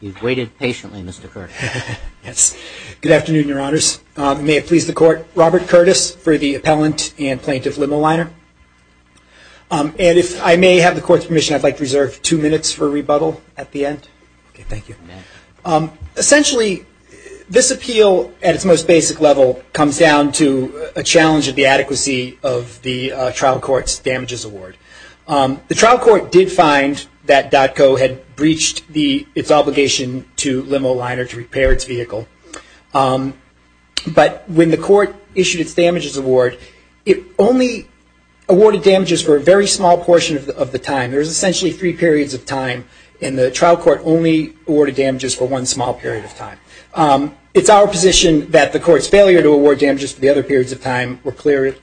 You've waited patiently, Mr. Curtis. Yes. Good afternoon, Your Honors. May it please the Court, Robert Curtis for the Appellant and Plaintiff Limoliner, and if I may have the Court's permission, I'd like to reserve two minutes for rebuttal at the end. Okay. Thank you. Essentially, this appeal at its most basic level comes down to a challenge of the adequacy of the trial court's damages award. The trial court did find that Dattco had breached its obligation to Limoliner to repair its vehicle, but when the court issued its damages award, it only awarded damages for a very small portion of the time. There's essentially three periods of time, and the trial court only awarded damages for one small period of time. It's our position that the court's failure to award damages for the other periods of time were clearly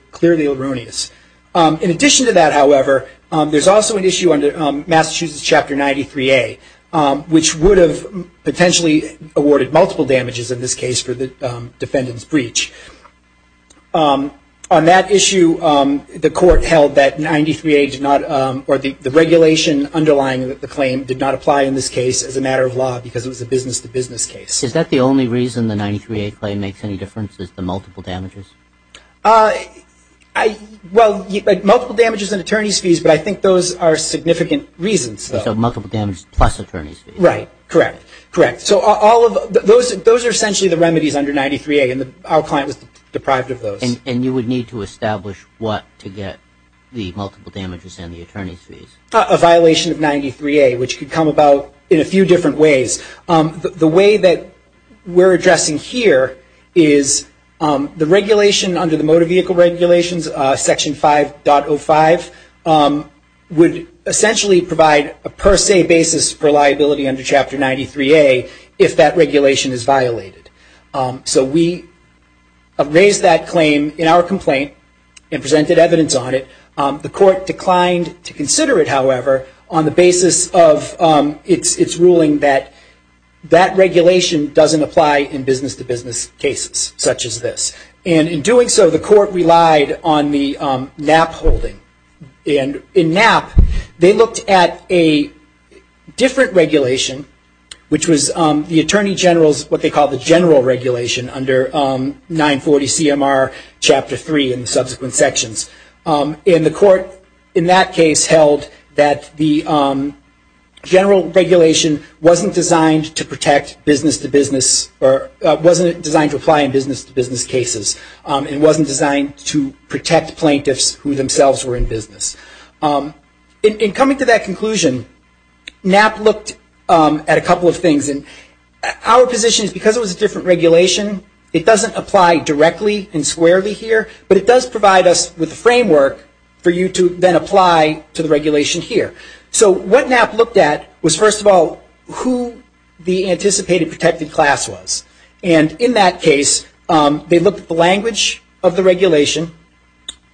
erroneous. In addition to that, however, there's also an issue under Massachusetts Chapter 93A, which would have potentially awarded multiple damages in this case for the defendant's breach. On that issue, the court held that 93A did not, or the regulation underlying the claim did not apply in this case as a matter of law, because it was a business-to-business case. Is that the only reason the 93A claim makes any difference, is the multiple damages? Well, multiple damages and attorney's fees, but I think those are significant reasons. So multiple damages plus attorney's fees. Right. Correct. Correct. So those are essentially the remedies under 93A, and our client was deprived of those. And you would need to establish what to get the multiple damages and the attorney's fees? A violation of 93A, which could come about in a few different ways. The way that we're addressing here is the regulation under the motor vehicle regulations, Section 5.05, would essentially provide a per se basis for liability under Chapter 93A, if that regulation is violated. So we have raised that claim in our complaint and presented evidence on it. The court declined to consider it, however, on the basis of its ruling that that regulation doesn't apply in business-to-business cases such as this. And in doing so, the court relied on the Knapp holding. And in Knapp, they looked at a different regulation, which was the Attorney General's, what they call the general regulation under 940CMR Chapter 3 and subsequent sections. And the court in that case held that the general regulation wasn't designed to protect business-to-business or wasn't designed to apply in business-to-business cases. It wasn't designed to protect plaintiffs who themselves were in business. In coming to that conclusion, Knapp looked at a couple of things. And our position is because it was a different regulation, it doesn't apply directly and squarely here, but it does provide us with a framework for you to then apply to the regulation here. So what Knapp looked at was, first of all, who the anticipated protected class was. And in that case, they looked at the language of the regulation.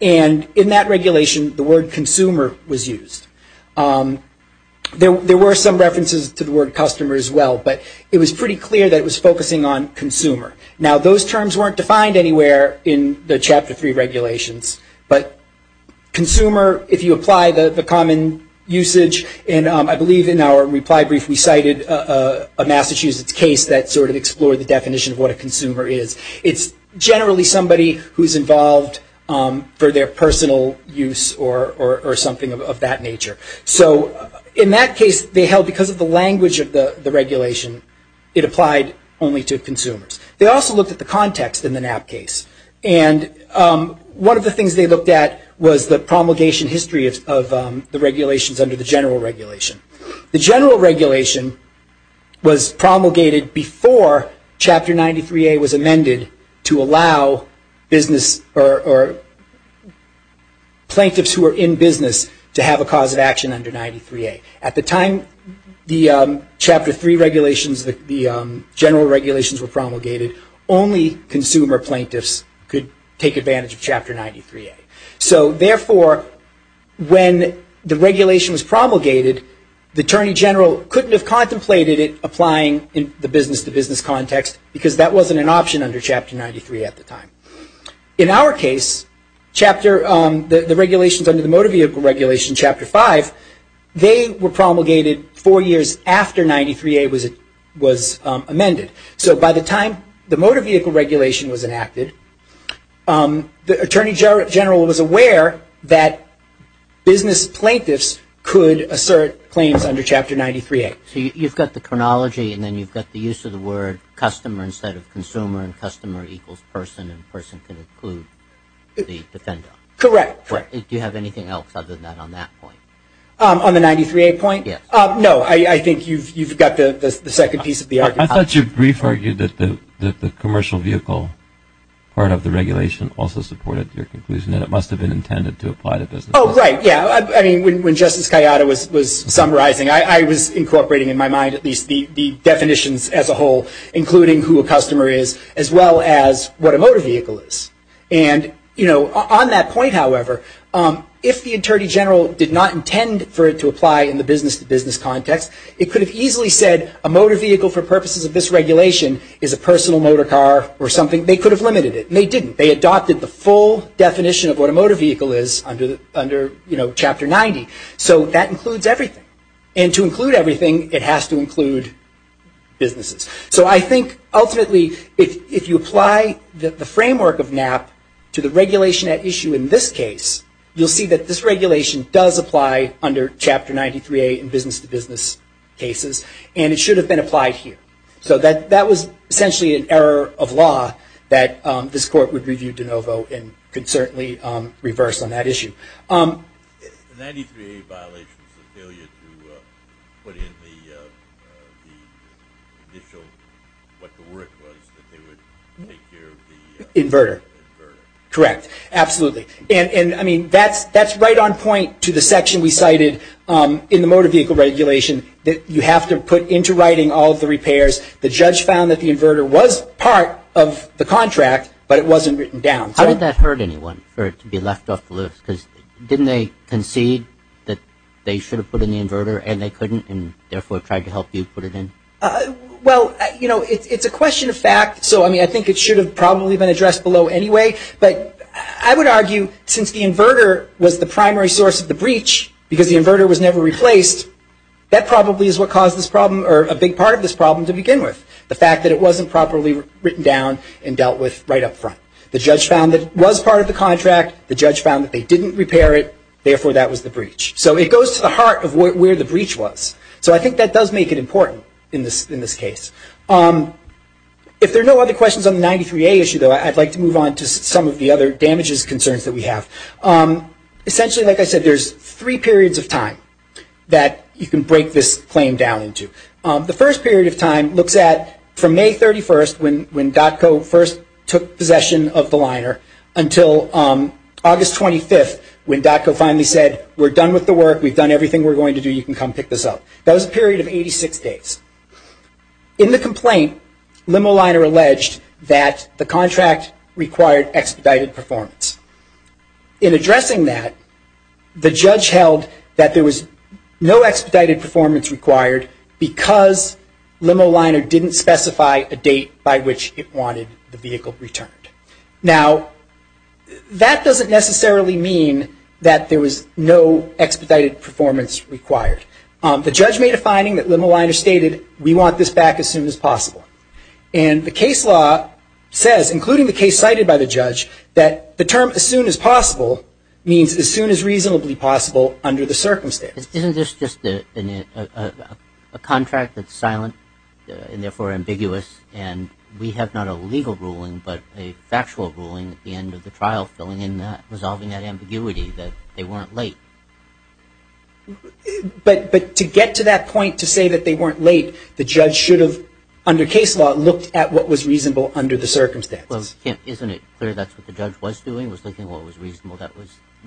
And in that regulation, the word consumer was used. There were some references to the word customer as well, but it was pretty clear that it was focusing on consumer. Now, those terms weren't defined anywhere in the Chapter 3 regulations, but consumer, if you apply the common usage, and I believe in our reply brief we cited a Massachusetts case that sort of explored the definition of what a consumer is. It's generally somebody who's involved for their personal use or something of that nature. So in that case, they held because of the language of the regulation, it applied only to consumers. They also looked at the context in the Knapp case. And one of the things they looked at was the promulgation history of the regulations under the general regulation. The general regulation was promulgated before Chapter 93A was amended to allow business or plaintiffs who were in business to have a cause of action under 93A. At the time the Chapter 3 regulations, the general regulations were promulgated, only consumer plaintiffs could take advantage of Chapter 93A. So therefore, when the regulation was promulgated, the Attorney General couldn't have contemplated it applying in the business-to-business context because that wasn't an option under Chapter 93 at the time. In our case, the regulations under the motor vehicle regulation, Chapter 5, they were promulgated four years after 93A was amended. So by the time the motor vehicle regulation was enacted, the Attorney General was aware that business plaintiffs could assert claims under Chapter 93A. So you've got the chronology and then you've got the use of the word customer instead of consumer and customer equals person and person can include the defendant. Correct. Do you have anything else other than that on that point? On the 93A point? No, I think you've got the second piece of the argument. I thought you briefly argued that the commercial vehicle part of the regulation also supported your conclusion that it must have been intended to apply to business. Oh, right, yeah. I mean, when Justice Cayetano was summarizing, I was incorporating in my mind at least the definitions as a whole, including who a customer is as well as what a motor vehicle is. And, you know, on that point, however, if the Attorney General did not intend for it to apply in the business-to-business context, it could have easily said a motor vehicle for purposes of this regulation is a personal motor car or something. They could have limited it. And they didn't. They adopted the full definition of what a motor vehicle is under, you know, Chapter 90. So that includes everything. And to include everything, it has to include businesses. So I think, ultimately, if you apply the framework of NAP to the regulation at issue in this case, you'll see that this regulation does apply under Chapter 93A in business-to-business cases. And it should have been applied here. So that was essentially an error of law that this Court would review de novo and could certainly reverse on that issue. The 93A violation was a failure to put in the initial what the word was that they would take care of the... Inverter. Inverter. Correct. Absolutely. And, I mean, that's right on point to the section we cited in the motor vehicle regulation that you have to put into writing all of the repairs. The judge found that the inverter was part of the contract, but it wasn't written down. How did that hurt anyone for it to be left off the list? Because didn't they concede that they should have put in the inverter and they couldn't and therefore tried to help you put it in? Well, you know, it's a question of fact. So, I mean, I think it should have probably been addressed below anyway. But I would argue since the inverter was the primary source of the breach because the inverter was never replaced that probably is what caused this problem or a big part of this problem to begin with the fact that it wasn't properly written down and dealt with right up front. The judge found that it was part of the contract the judge found that they didn't repair it therefore that was the breach. So it goes to the heart of where the breach was. So I think that does make it important in this case. If there are no other questions on the 93A issue I'd like to move on to some of the other damages concerns that we have. Essentially, like I said, there's three periods of time that you can break this claim down into. The first period of time looks at from May 31st when DOTCO first took possession of the liner until August 25th when DOTCO finally said we're done with the work, we've done everything we're going to do, you can come pick this up. That was a period of 86 days. In the complaint, Limo Liner alleged that the contract required expedited performance. In addressing that the judge held that there was no expedited performance required because Limo Liner didn't specify a date by which it wanted the vehicle returned. Now that doesn't necessarily mean that there was no expedited performance required. The judge made a finding that Limo Liner stated we want this back as soon as possible. And the case law says, including the case cited by the judge that the term as soon as possible means as soon as reasonably possible under the circumstances. Isn't this just a contract that's silent and therefore ambiguous and we have not a legal ruling but a factual ruling at the end of the trial resolving that ambiguity that they weren't late. But to get to that point to say that they weren't late the judge should have, under case law looked at what was reasonable under the circumstances. Isn't it clear that's what the judge was doing? Was looking at what was reasonable?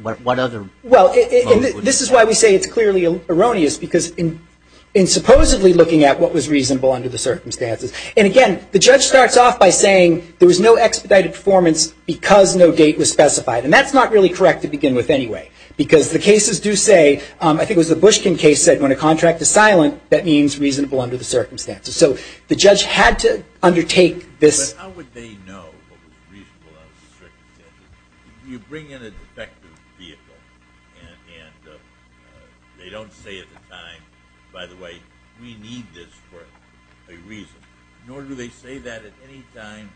What other... This is why we say it's clearly erroneous because in supposedly looking at what was reasonable under the circumstances and again the judge starts off by saying there was no expedited performance because no date was specified and that's not really correct to begin with anyway because the cases do say I think it was the Bushkin case that said when a contract is So the judge had to undertake this... But how would they know what was reasonable under the circumstances? You bring in a defective vehicle and they don't say at the time, by the way we need this for a reason nor do they say that at any time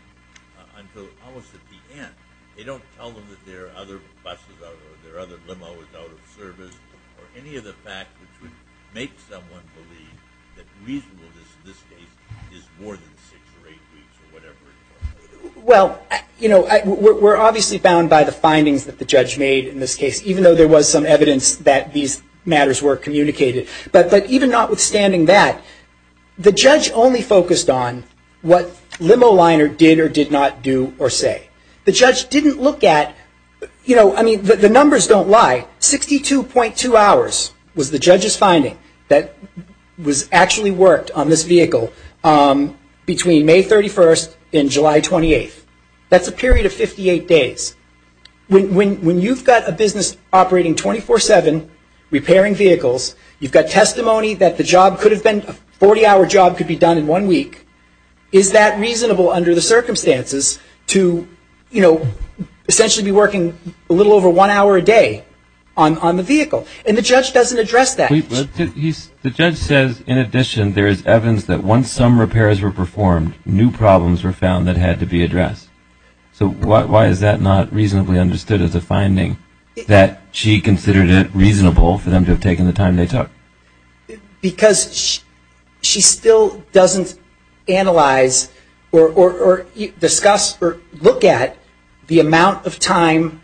until almost at the end. They don't tell them that their other bus or their other limo was out of service or any of the facts which would make someone believe that reasonableness in this case is more than 6 or 8 weeks or whatever Well, you know we're obviously bound by the findings that the judge made in this case even though there was some evidence that these matters were communicated but even notwithstanding that the judge only focused on what limo liner did or did not do or say the judge didn't look at you know, I mean the numbers don't lie 62.2 hours was the judge's finding that was actually worked on this vehicle between May 31st and July 28th That's a period of 58 days When you've got a business operating 24-7 repairing vehicles you've got testimony that the job could have been a 40 hour job could be done in 1 week is that reasonable under the circumstances to you know, essentially be working a little over 1 hour a day on the vehicle and the judge doesn't address that The judge says in addition there is evidence that once some repairs were performed new problems were found that had to be addressed so why is that not reasonably understood as a finding that she considered it reasonable for them to have taken the time they took Because she still doesn't analyze or discuss or look at the amount of time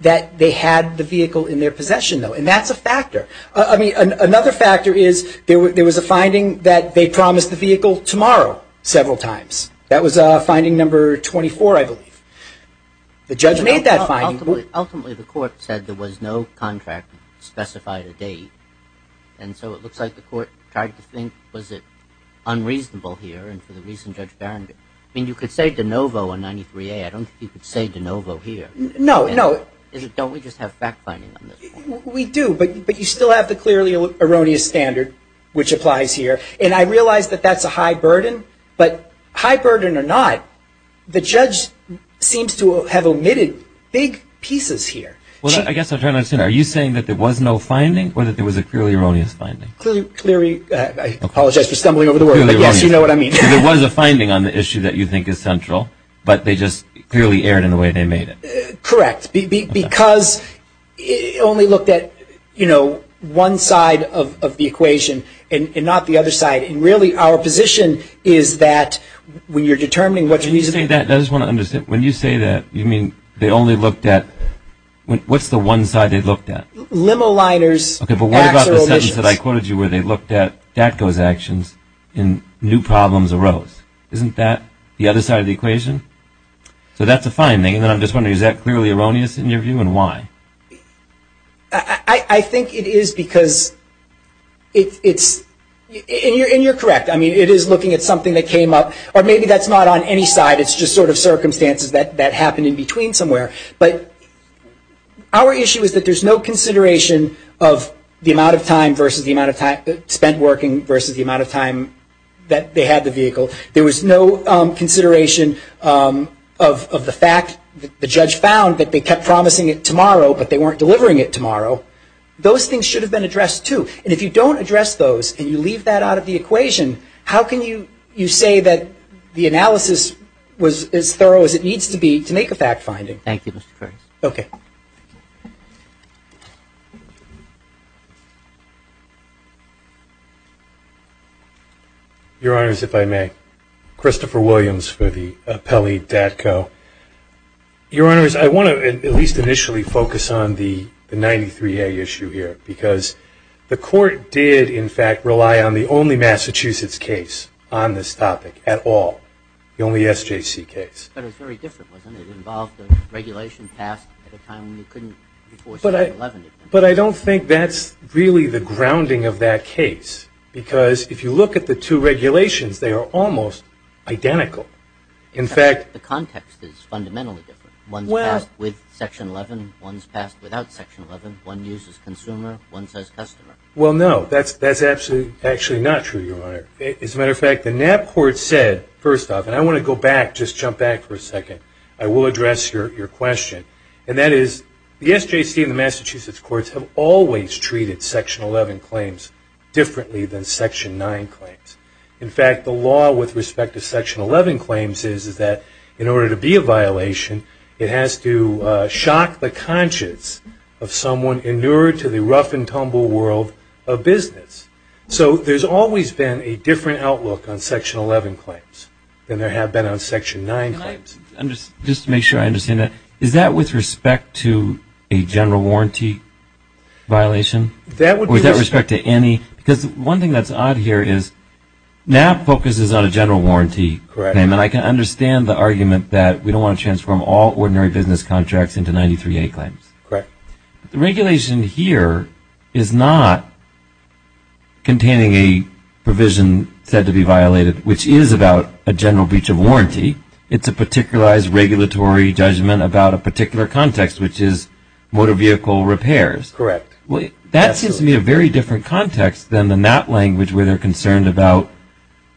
that they had the vehicle in their possession though and that's a factor I mean, another factor is there was a finding that they promised the vehicle tomorrow several times that was finding number 24 I believe The judge made that finding Ultimately the court said there was no contract specified a date and so it looks like the court tried to think was it unreasonable here and for the reason Judge Barringer I mean you could say de novo in 93A I don't think you could say de novo here No, no Don't we just have fact finding We do but you still have the clearly erroneous standard which applies here and I realize that that's a high burden but high burden or not the judge seems to have omitted big pieces here Well I guess I'll turn it to you Are you saying that there was no finding or that there was a clearly erroneous finding Clearly, I apologize for stumbling over the word Yes, you know what I mean There was a finding on the issue that you think is central but they just clearly erred in the way they made it Correct, because it only looked at, you know one side of the equation and not the other side and really our position is that when you're determining what's reasonable I just want to understand, when you say that you mean they only looked at what's the one side they looked at Limo liners, axles What about the sentence I quoted you where they looked at those actions and new problems arose Isn't that the other side of the equation So that's a finding and I'm just wondering is that clearly erroneous in your view and why I think it is because and you're correct I mean it is looking at something that came up or maybe that's not on any side it's just sort of circumstances that happened in between somewhere but our issue is that there's no consideration of the amount of time spent working versus the amount of time that they had the vehicle there was no consideration of the fact that the judge found that they kept promising it tomorrow but they weren't delivering it tomorrow those things should have been addressed too and if you don't address those and you leave that out of the equation how can you say that the analysis was as thorough as it needs to be to make a fact finding Thank you Mr. Curtis Your Honor if I may Christopher Williams for the Appellee.co Your Honor I want to at least initially focus on the 93A issue here because the court did in fact rely on the only Massachusetts case on this topic at all the only SJC case But it was very different wasn't it it involved a regulation passed at a time before 7-11 But I don't think that's really the grounding of that case because if you look at the two regulations they are almost identical in fact the context is fundamentally different one's passed with section 11, one's passed without section 11, one uses consumer one says customer Well no that's actually not true as a matter of fact the NAB court said first off and I want to go back just jump back for a second I will address your question and that is the SJC and the Massachusetts courts have always treated section 11 claims differently than section 9 claims in fact the law with respect to section 11 claims is that in order to be a violation it has to shock the conscience of someone inured to the rough and tumble world of business so there's always been a different outlook on section 11 claims than there have been on section 9 claims Just to make sure I understand that is that with respect to a general warranty violation or is that with respect to any because one thing that's odd here is NAB focuses on a general warranty claim and I can understand the argument that we don't want to transform all ordinary business contracts into 93A claims. The regulation here is not containing a provision said to be violated which is about a general breach of warranty. It's a particularized regulatory judgment about a particular context which is motor vehicle repairs. Correct. That seems to me a very different context than the NAB language where they're concerned about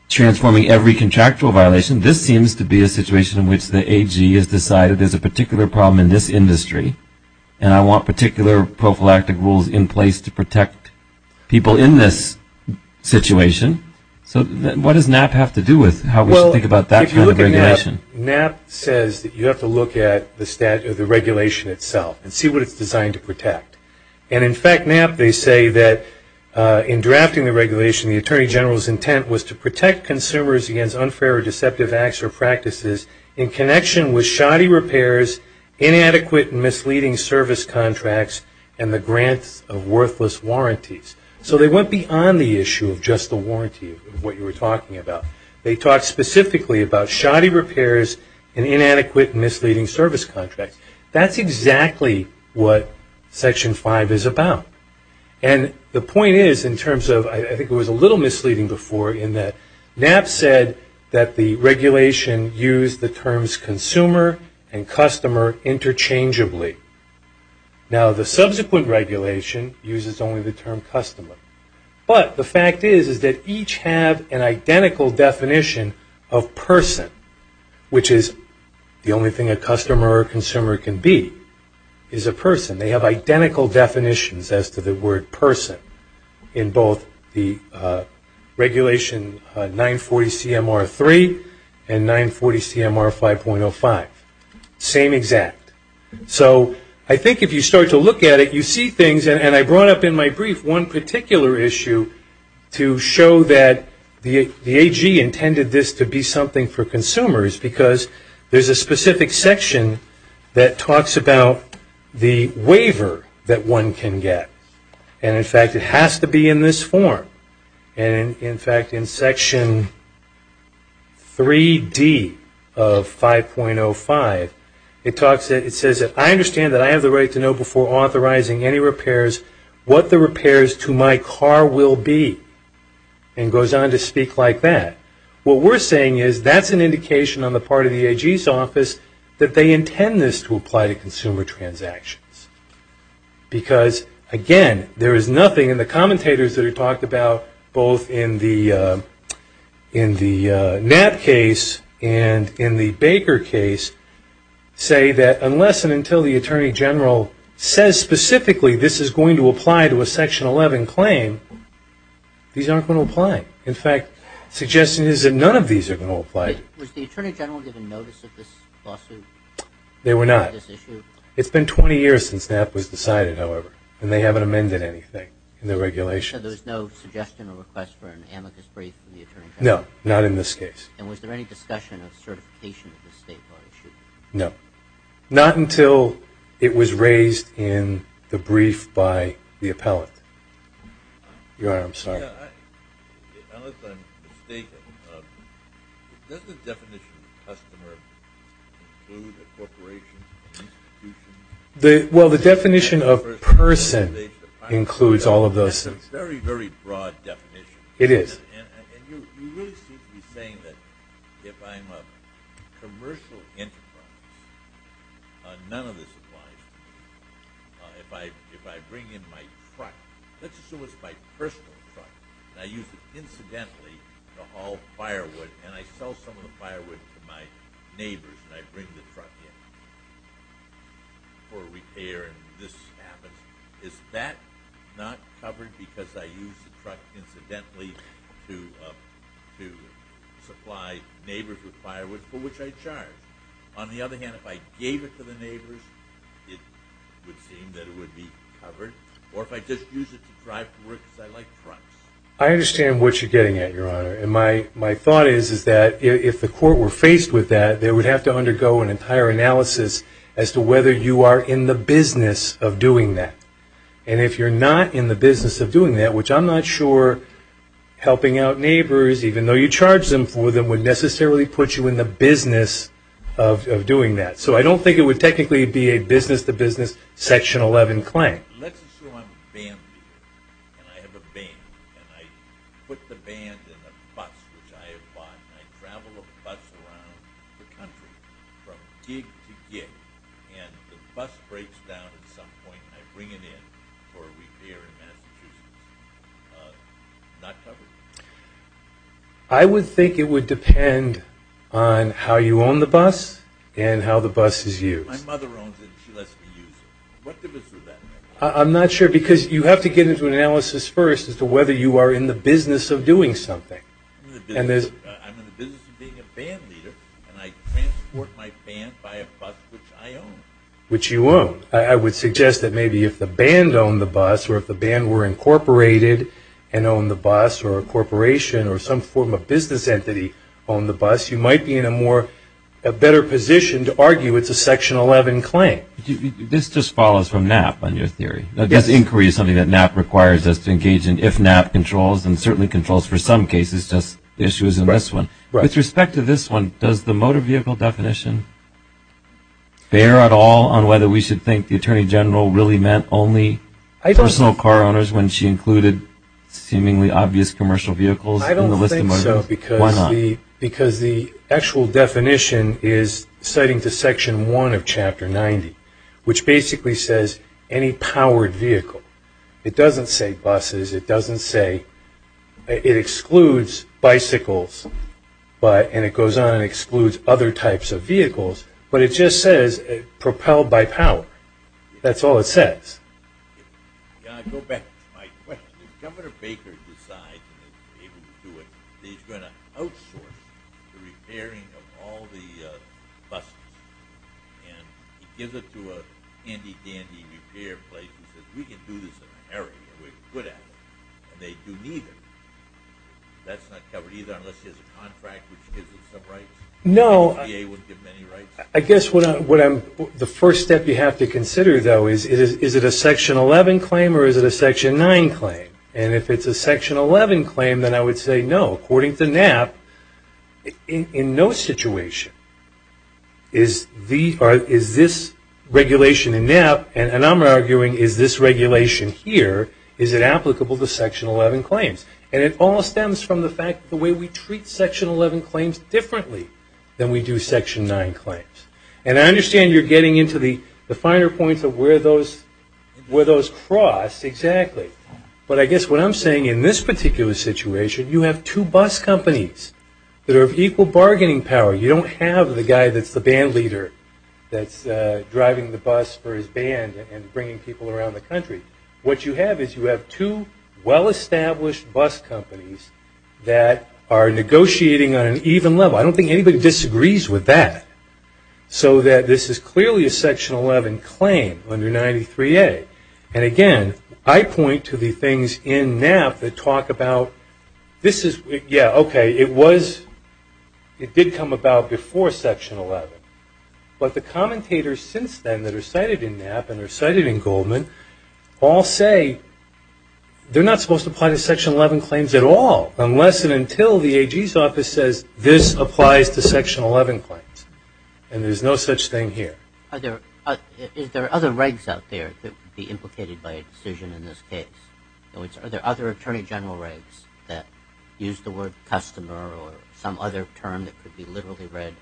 transforming every contractual violation. This seems to be a situation in which the AG has decided there's a particular problem in this industry and I want particular prophylactic rules in place to protect people in this situation. So what does NAB have to do with how we should think about that kind of regulation? NAB says that you have to look at the regulation itself and see what it's designed to protect and in fact NAB they say that in drafting the regulation the Attorney General's intent was to protect consumers against unfair or deceptive acts or practices in connection with shoddy repairs, inadequate and misleading service contracts and the grants of worthless warranties. So they went beyond the issue of just the warranty of what you were talking about. They talked specifically about shoddy repairs and inadequate and misleading service contracts. That's exactly what Section 5 is about. And the point is in terms of, I think it was a little misleading before in that NAB said that the regulation used the terms consumer and customer interchangeably. Now the subsequent regulation uses only the term customer. But the fact is that each have an identical definition of person, which is the only thing a customer or consumer can be, is a person. They have identical definitions as to the word person in both the regulation 940 CMR 3 and 940 CMR 5.05. Same exact. So I think if you start to look at it, you see things, and I brought up in my brief one particular issue to show that the AG intended this to be something for consumers because there's a specific section that talks about the waiver that one can get. And in fact it has to be in this form. And in fact in Section 3D of 5.05 it talks, it says I understand that I have the right to know before authorizing any repairs what the repairs to my car will be. And goes on to speak like that. What we're saying is that's an indication on the part of the AG's office that they intend this to apply to consumer transactions. Because again, there is nothing in the commentators that are talked about both in the NAB case and in the Baker case say that unless and until the AG says specifically this is going to apply to a Section 11 claim, these aren't going to apply. In fact, suggestion is that none of these are going to apply. Was the AG given notice of this lawsuit? They were not. It's been 20 years since that was decided, however. And they haven't amended anything in the regulation. So there's no suggestion or request for an amicus brief from the AG? No, not in this case. And was there any discussion of certification of the state law issued? No. Not until it was raised in the brief by the appellate. You're right, I'm sorry. Yeah, I unless I'm mistaken, does the definition of customer include a corporation, an institution? Well, the definition of person includes all of those things. That's a very, very broad definition. It is. And you really seem to be saying that if I'm a commercial enterprise, none of this applies. If I bring in my truck, let's assume it's my personal truck, and I use it incidentally to haul firewood, and I sell some of the firewood to my neighbors, and I bring the truck in for repair, and this happens, is that not covered because I use the truck incidentally to supply neighbors with firewood for which I charge? On the other hand, if I gave it to the neighbors, it would seem that it would be covered. Or if I just use it to drive to work because I like trucks. I understand what you're getting at, Your Honor. And my thought is that if the court were faced with that, they would have to undergo an entire analysis as to whether you are in the business of doing that. And if you're not in the business of doing that, which I'm not sure helping out neighbors, even though you charge them for them, would necessarily put you in the business of doing that. So I don't think it would technically be a business-to-business Section 11 claim. Let's assume I'm a band leader, and I have a band, and I put the band in a bus which I have bought, and I travel the bus around the country from gig to gig, and the bus breaks down at some point, and I bring it in for a repair in Massachusetts. It's not covered. I would think it would depend on how you own the bus, and how the bus is used. My mother owns it, and she lets me use it. I'm not sure, because you have to get into an analysis first as to whether you are in the business of doing something. I'm in the business of being a band leader, and I transport my band by a bus which I own. Which you own. I would suggest that maybe if the band owned the bus, or if the band were incorporated and owned the bus, or a corporation or some form of business entity owned the bus, you might be in a better position to argue it's a Section 11 claim. This just follows from NAP on your theory. This inquiry is something that NAP requires us to engage in if NAP controls, and certainly controls for some cases, just issues in this one. With respect to this one, does the motor vehicle definition bear at all on whether we should think the Attorney General really meant only personal car owners when she included seemingly obvious commercial vehicles in the list of motor vehicles? Why not? I don't think so, because the actual definition is citing to Section 1 of Chapter 90, which basically says any powered vehicle, it doesn't say buses, it doesn't say it excludes bicycles, and it goes on and excludes other types of vehicles, but it just says propelled by power. That's all it says. Can I go back to my question? If Governor Baker decides he's able to do it, he's going to outsource the repairing of all the buses. And he gives it to a handy dandy repair place and says, we can do this in America, we're good at it. And they do neither. That's not covered either, unless he has a contract which gives him some rights. No. I guess the first step you have to consider, though, is is it a Section 11 claim or is it a Section 9 claim? And if it's a Section 11 claim, then I would say no. According to NAP, in no situation is this regulation in NAP, and I'm arguing, is this regulation here, is it applicable to Section 11 claims? And it all stems from the fact, the way we treat Section 11 claims differently than we do Section 9 claims. And I understand you're getting into the finer points of where those cross, exactly. But I guess what I'm saying, in this particular situation, you have two bus companies that are of equal bargaining power. You don't have the guy that's the band leader that's driving the bus for his band and bringing people around the country. What you have is you have two well-established bus companies that are negotiating on an even level. I don't think anybody disagrees with that. So that this is clearly a Section 11 claim under 93A. And again, I point to the things in NAP that talk about, this is, yeah, okay, it was, it did come about before Section 11. But the commentators since then that are cited in NAP and are cited in Goldman, all say they're not supposed to apply to Section 11 claims at all unless and until the AG's office says this applies to Section 11 claims. And there's no such thing here. Is there other regs out there that would be implicated by a decision in this case? Are there other Attorney General regs that use the word customer or some other term that could be literally read?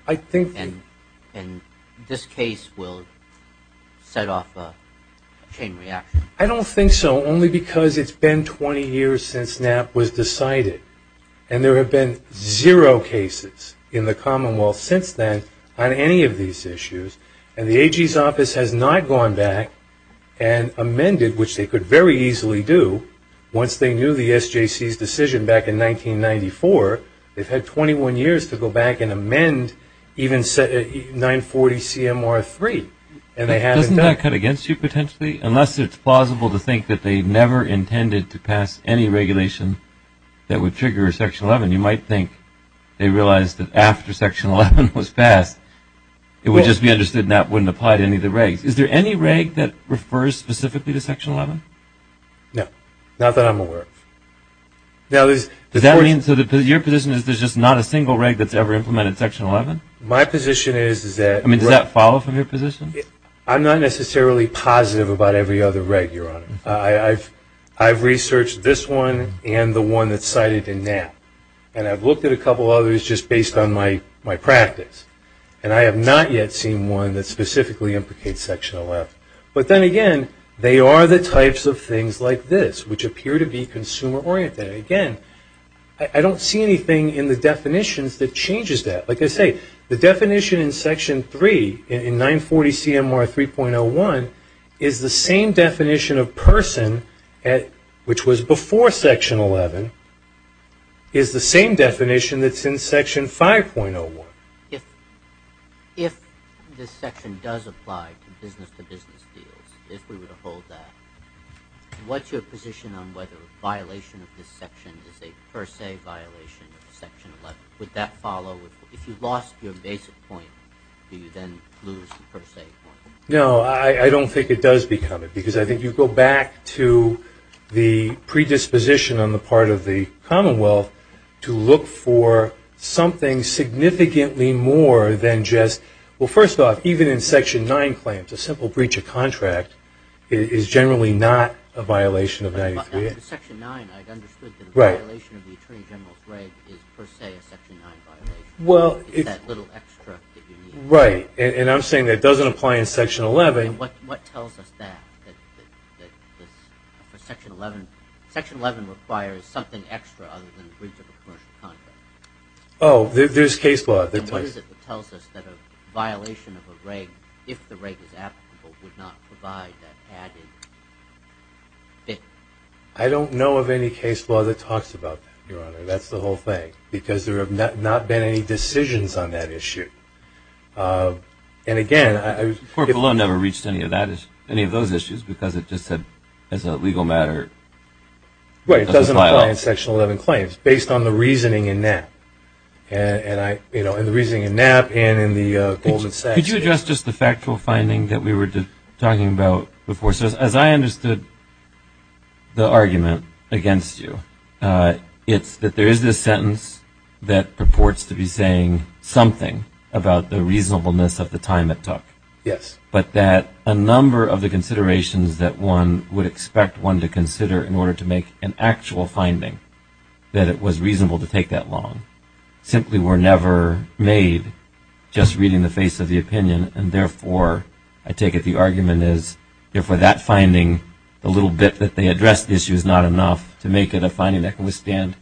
And this case will set off a campaign reaction. I don't think so. Only because it's been 20 years since NAP was decided. And there have been zero cases in the Commonwealth since then on any of these issues. And the AG's office has not gone back and amended, which they could very easily do, once they knew the SJC's decision back in 1994. They've had 21 years to go back and amend even 940 CMR 3. Doesn't that cut against you potentially? Unless it's plausible to think that they never intended to pass any regulation that would trigger Section 11. You might think they realized that after Section 11 was passed, it would just be understood NAP wouldn't apply to any of the regs. Is there any reg that refers specifically to Section 11? No. Not that I'm aware of. Does that mean, so your position is there's just not a single reg that's ever implemented Section 11? My position is that... Does that follow from your position? I'm not necessarily positive about every other reg, Your Honor. I've researched this one and the one that's cited in NAP. And I've looked at a couple others just based on my practice. And I have not yet seen one that specifically implicates Section 11. But then again, they are the types of things like this, which appear to be consumer-oriented. Again, I don't see anything in the definitions that changes that. Like I say, the definition in Section 3 in 940 CMR 3.01 is the same definition of person which was before Section 11 is the same definition that's in Section 5.01. If this section does apply to business-to-business deals, if we were to hold that, what's your position on whether a violation of this section is a per se violation of Section 11? Would that follow? If you lost your basic point, do you then lose the per se point? No, I don't think it does become it because I think you go back to the predisposition on the part of the Commonwealth to look for something significantly more than just well, first off, even in Section 9 claims, a simple breach of contract is generally not a violation of 93. In Section 9, I'd understood that a violation of the Attorney General's reg is per se a Section 9 violation. Is that little extra that you need? Right, and I'm saying that it doesn't apply in Section 11. And what tells us that? Section 11 requires something extra other than a breach of a commercial contract. Oh, there's case law. And what is it that tells us that a violation of a reg, if the reg is applicable, would not provide that added benefit? I don't know of any case law that talks about that, Your Honor. That's the whole thing. Because there have not been any decisions on that issue. And again, Court of Law never reached any of those issues because it just said as a legal matter it doesn't apply in Section 11 claims based on the reasoning in Knapp. And the reasoning in Knapp and in the Goldman Sachs Did you address just the factual finding that we were talking about before? As I understood the argument against you, it's that there is this sentence that purports to be saying something about the reasonableness of the time it took. But that a number of the considerations that one would expect one to consider in order to make an actual finding that it was reasonable to take that long simply were never made just reading the face of the opinion and therefore, I take it the argument is, therefore that finding the little bit that they addressed the issue is not enough to make it a finding that can withstand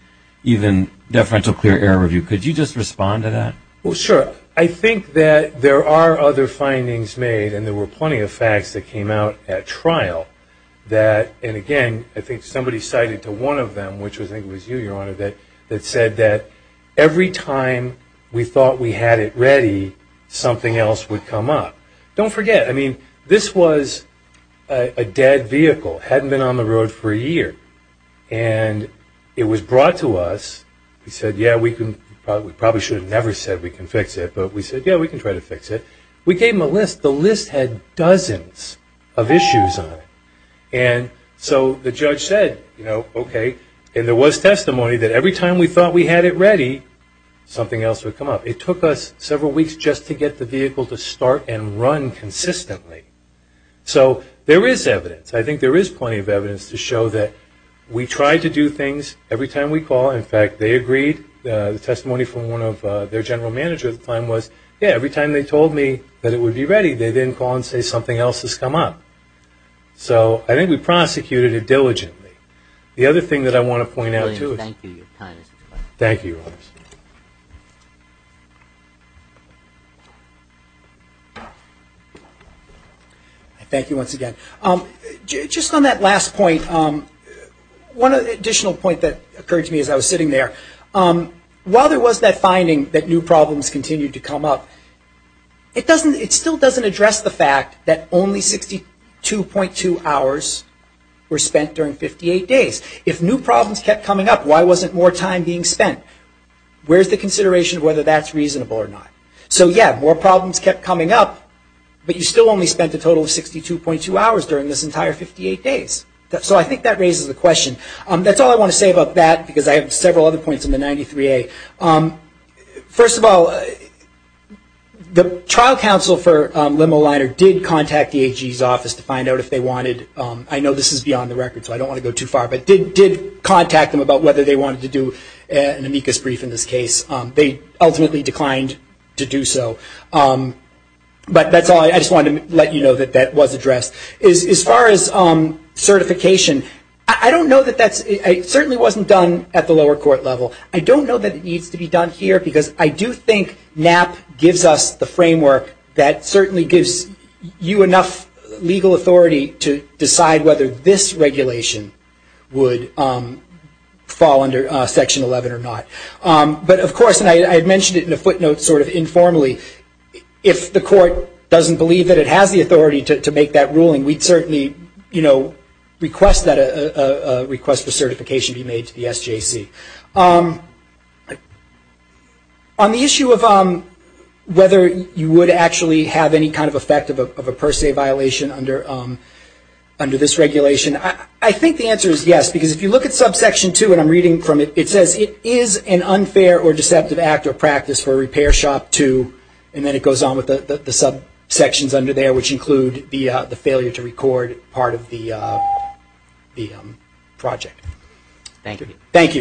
even deferential clear error review. Could you just respond to that? Well, sure. I think that there are other findings made, and there were plenty of facts that came out at trial, that and again, I think somebody cited to one of them, which I think was you, Your Honor that said that every time we thought we had it ready, something else would come up. Don't forget, I mean this was a dead vehicle, hadn't been on the road for a year, and it was brought to us we said, yeah, we probably should have never said we can fix it, but we said, yeah, we can try to fix it. We gave them a list. The list had dozens of issues on it, and so the judge said, you know, okay, and there was testimony that every time we thought we had it ready something else would come up. It took us several weeks just to get the vehicle to start and run consistently. So, there is evidence. I think there is plenty of evidence to show that we tried to do things every time we called. In fact, they agreed. The testimony from one of their general managers at the time was, yeah, every time they told me that it would be ready they didn't call and say something else has come up. So, I think we prosecuted it diligently. The other thing that I want to point out too is Thank you. Thank you once again. Just on that last point, one additional point that occurred to me as I was sitting there, while there was that finding that new problems continued to come up, it still doesn't address the fact that only 62.2 hours were spent during 58 days. If new problems kept coming up, why wasn't more time being spent? Where's the consideration of whether that's reasonable or not? So, yeah, more problems kept coming up, but you still only spent a total of 62.2 hours during this entire 58 days. So, I think that raises the question. That's all I want to say about that, because I have several other points on the 93A. First of all, the trial counsel for Lemeliner did contact the AG's office to find out if they wanted, I know this is beyond the record, so I don't want to go too far, but did contact them about whether they wanted to do an amicus brief in this case. They ultimately declined to do so. But that's all. I just wanted to let you know that that was addressed. As far as certification, I don't know that that's certainly wasn't done at the lower court level. I don't know that it needs to be done here, because I do think NAP gives us the framework that certainly gives you enough legal authority to decide whether this regulation would fall under Section 11 or not. But of course, and I had mentioned it in a footnote sort of informally, if the court doesn't believe that it has the authority to make that ruling, we'd certainly request that a request for certification be made to the SJC. On the issue of whether you would actually have any kind of effect of a per se violation under this regulation, I think the answer is yes, because if you look at Subsection 2, and I'm reading from it, it says it is an unfair or deceptive act or practice for a repair shop to, and then it goes on with the subsections under there, which include the failure to record part of the project. Thank you.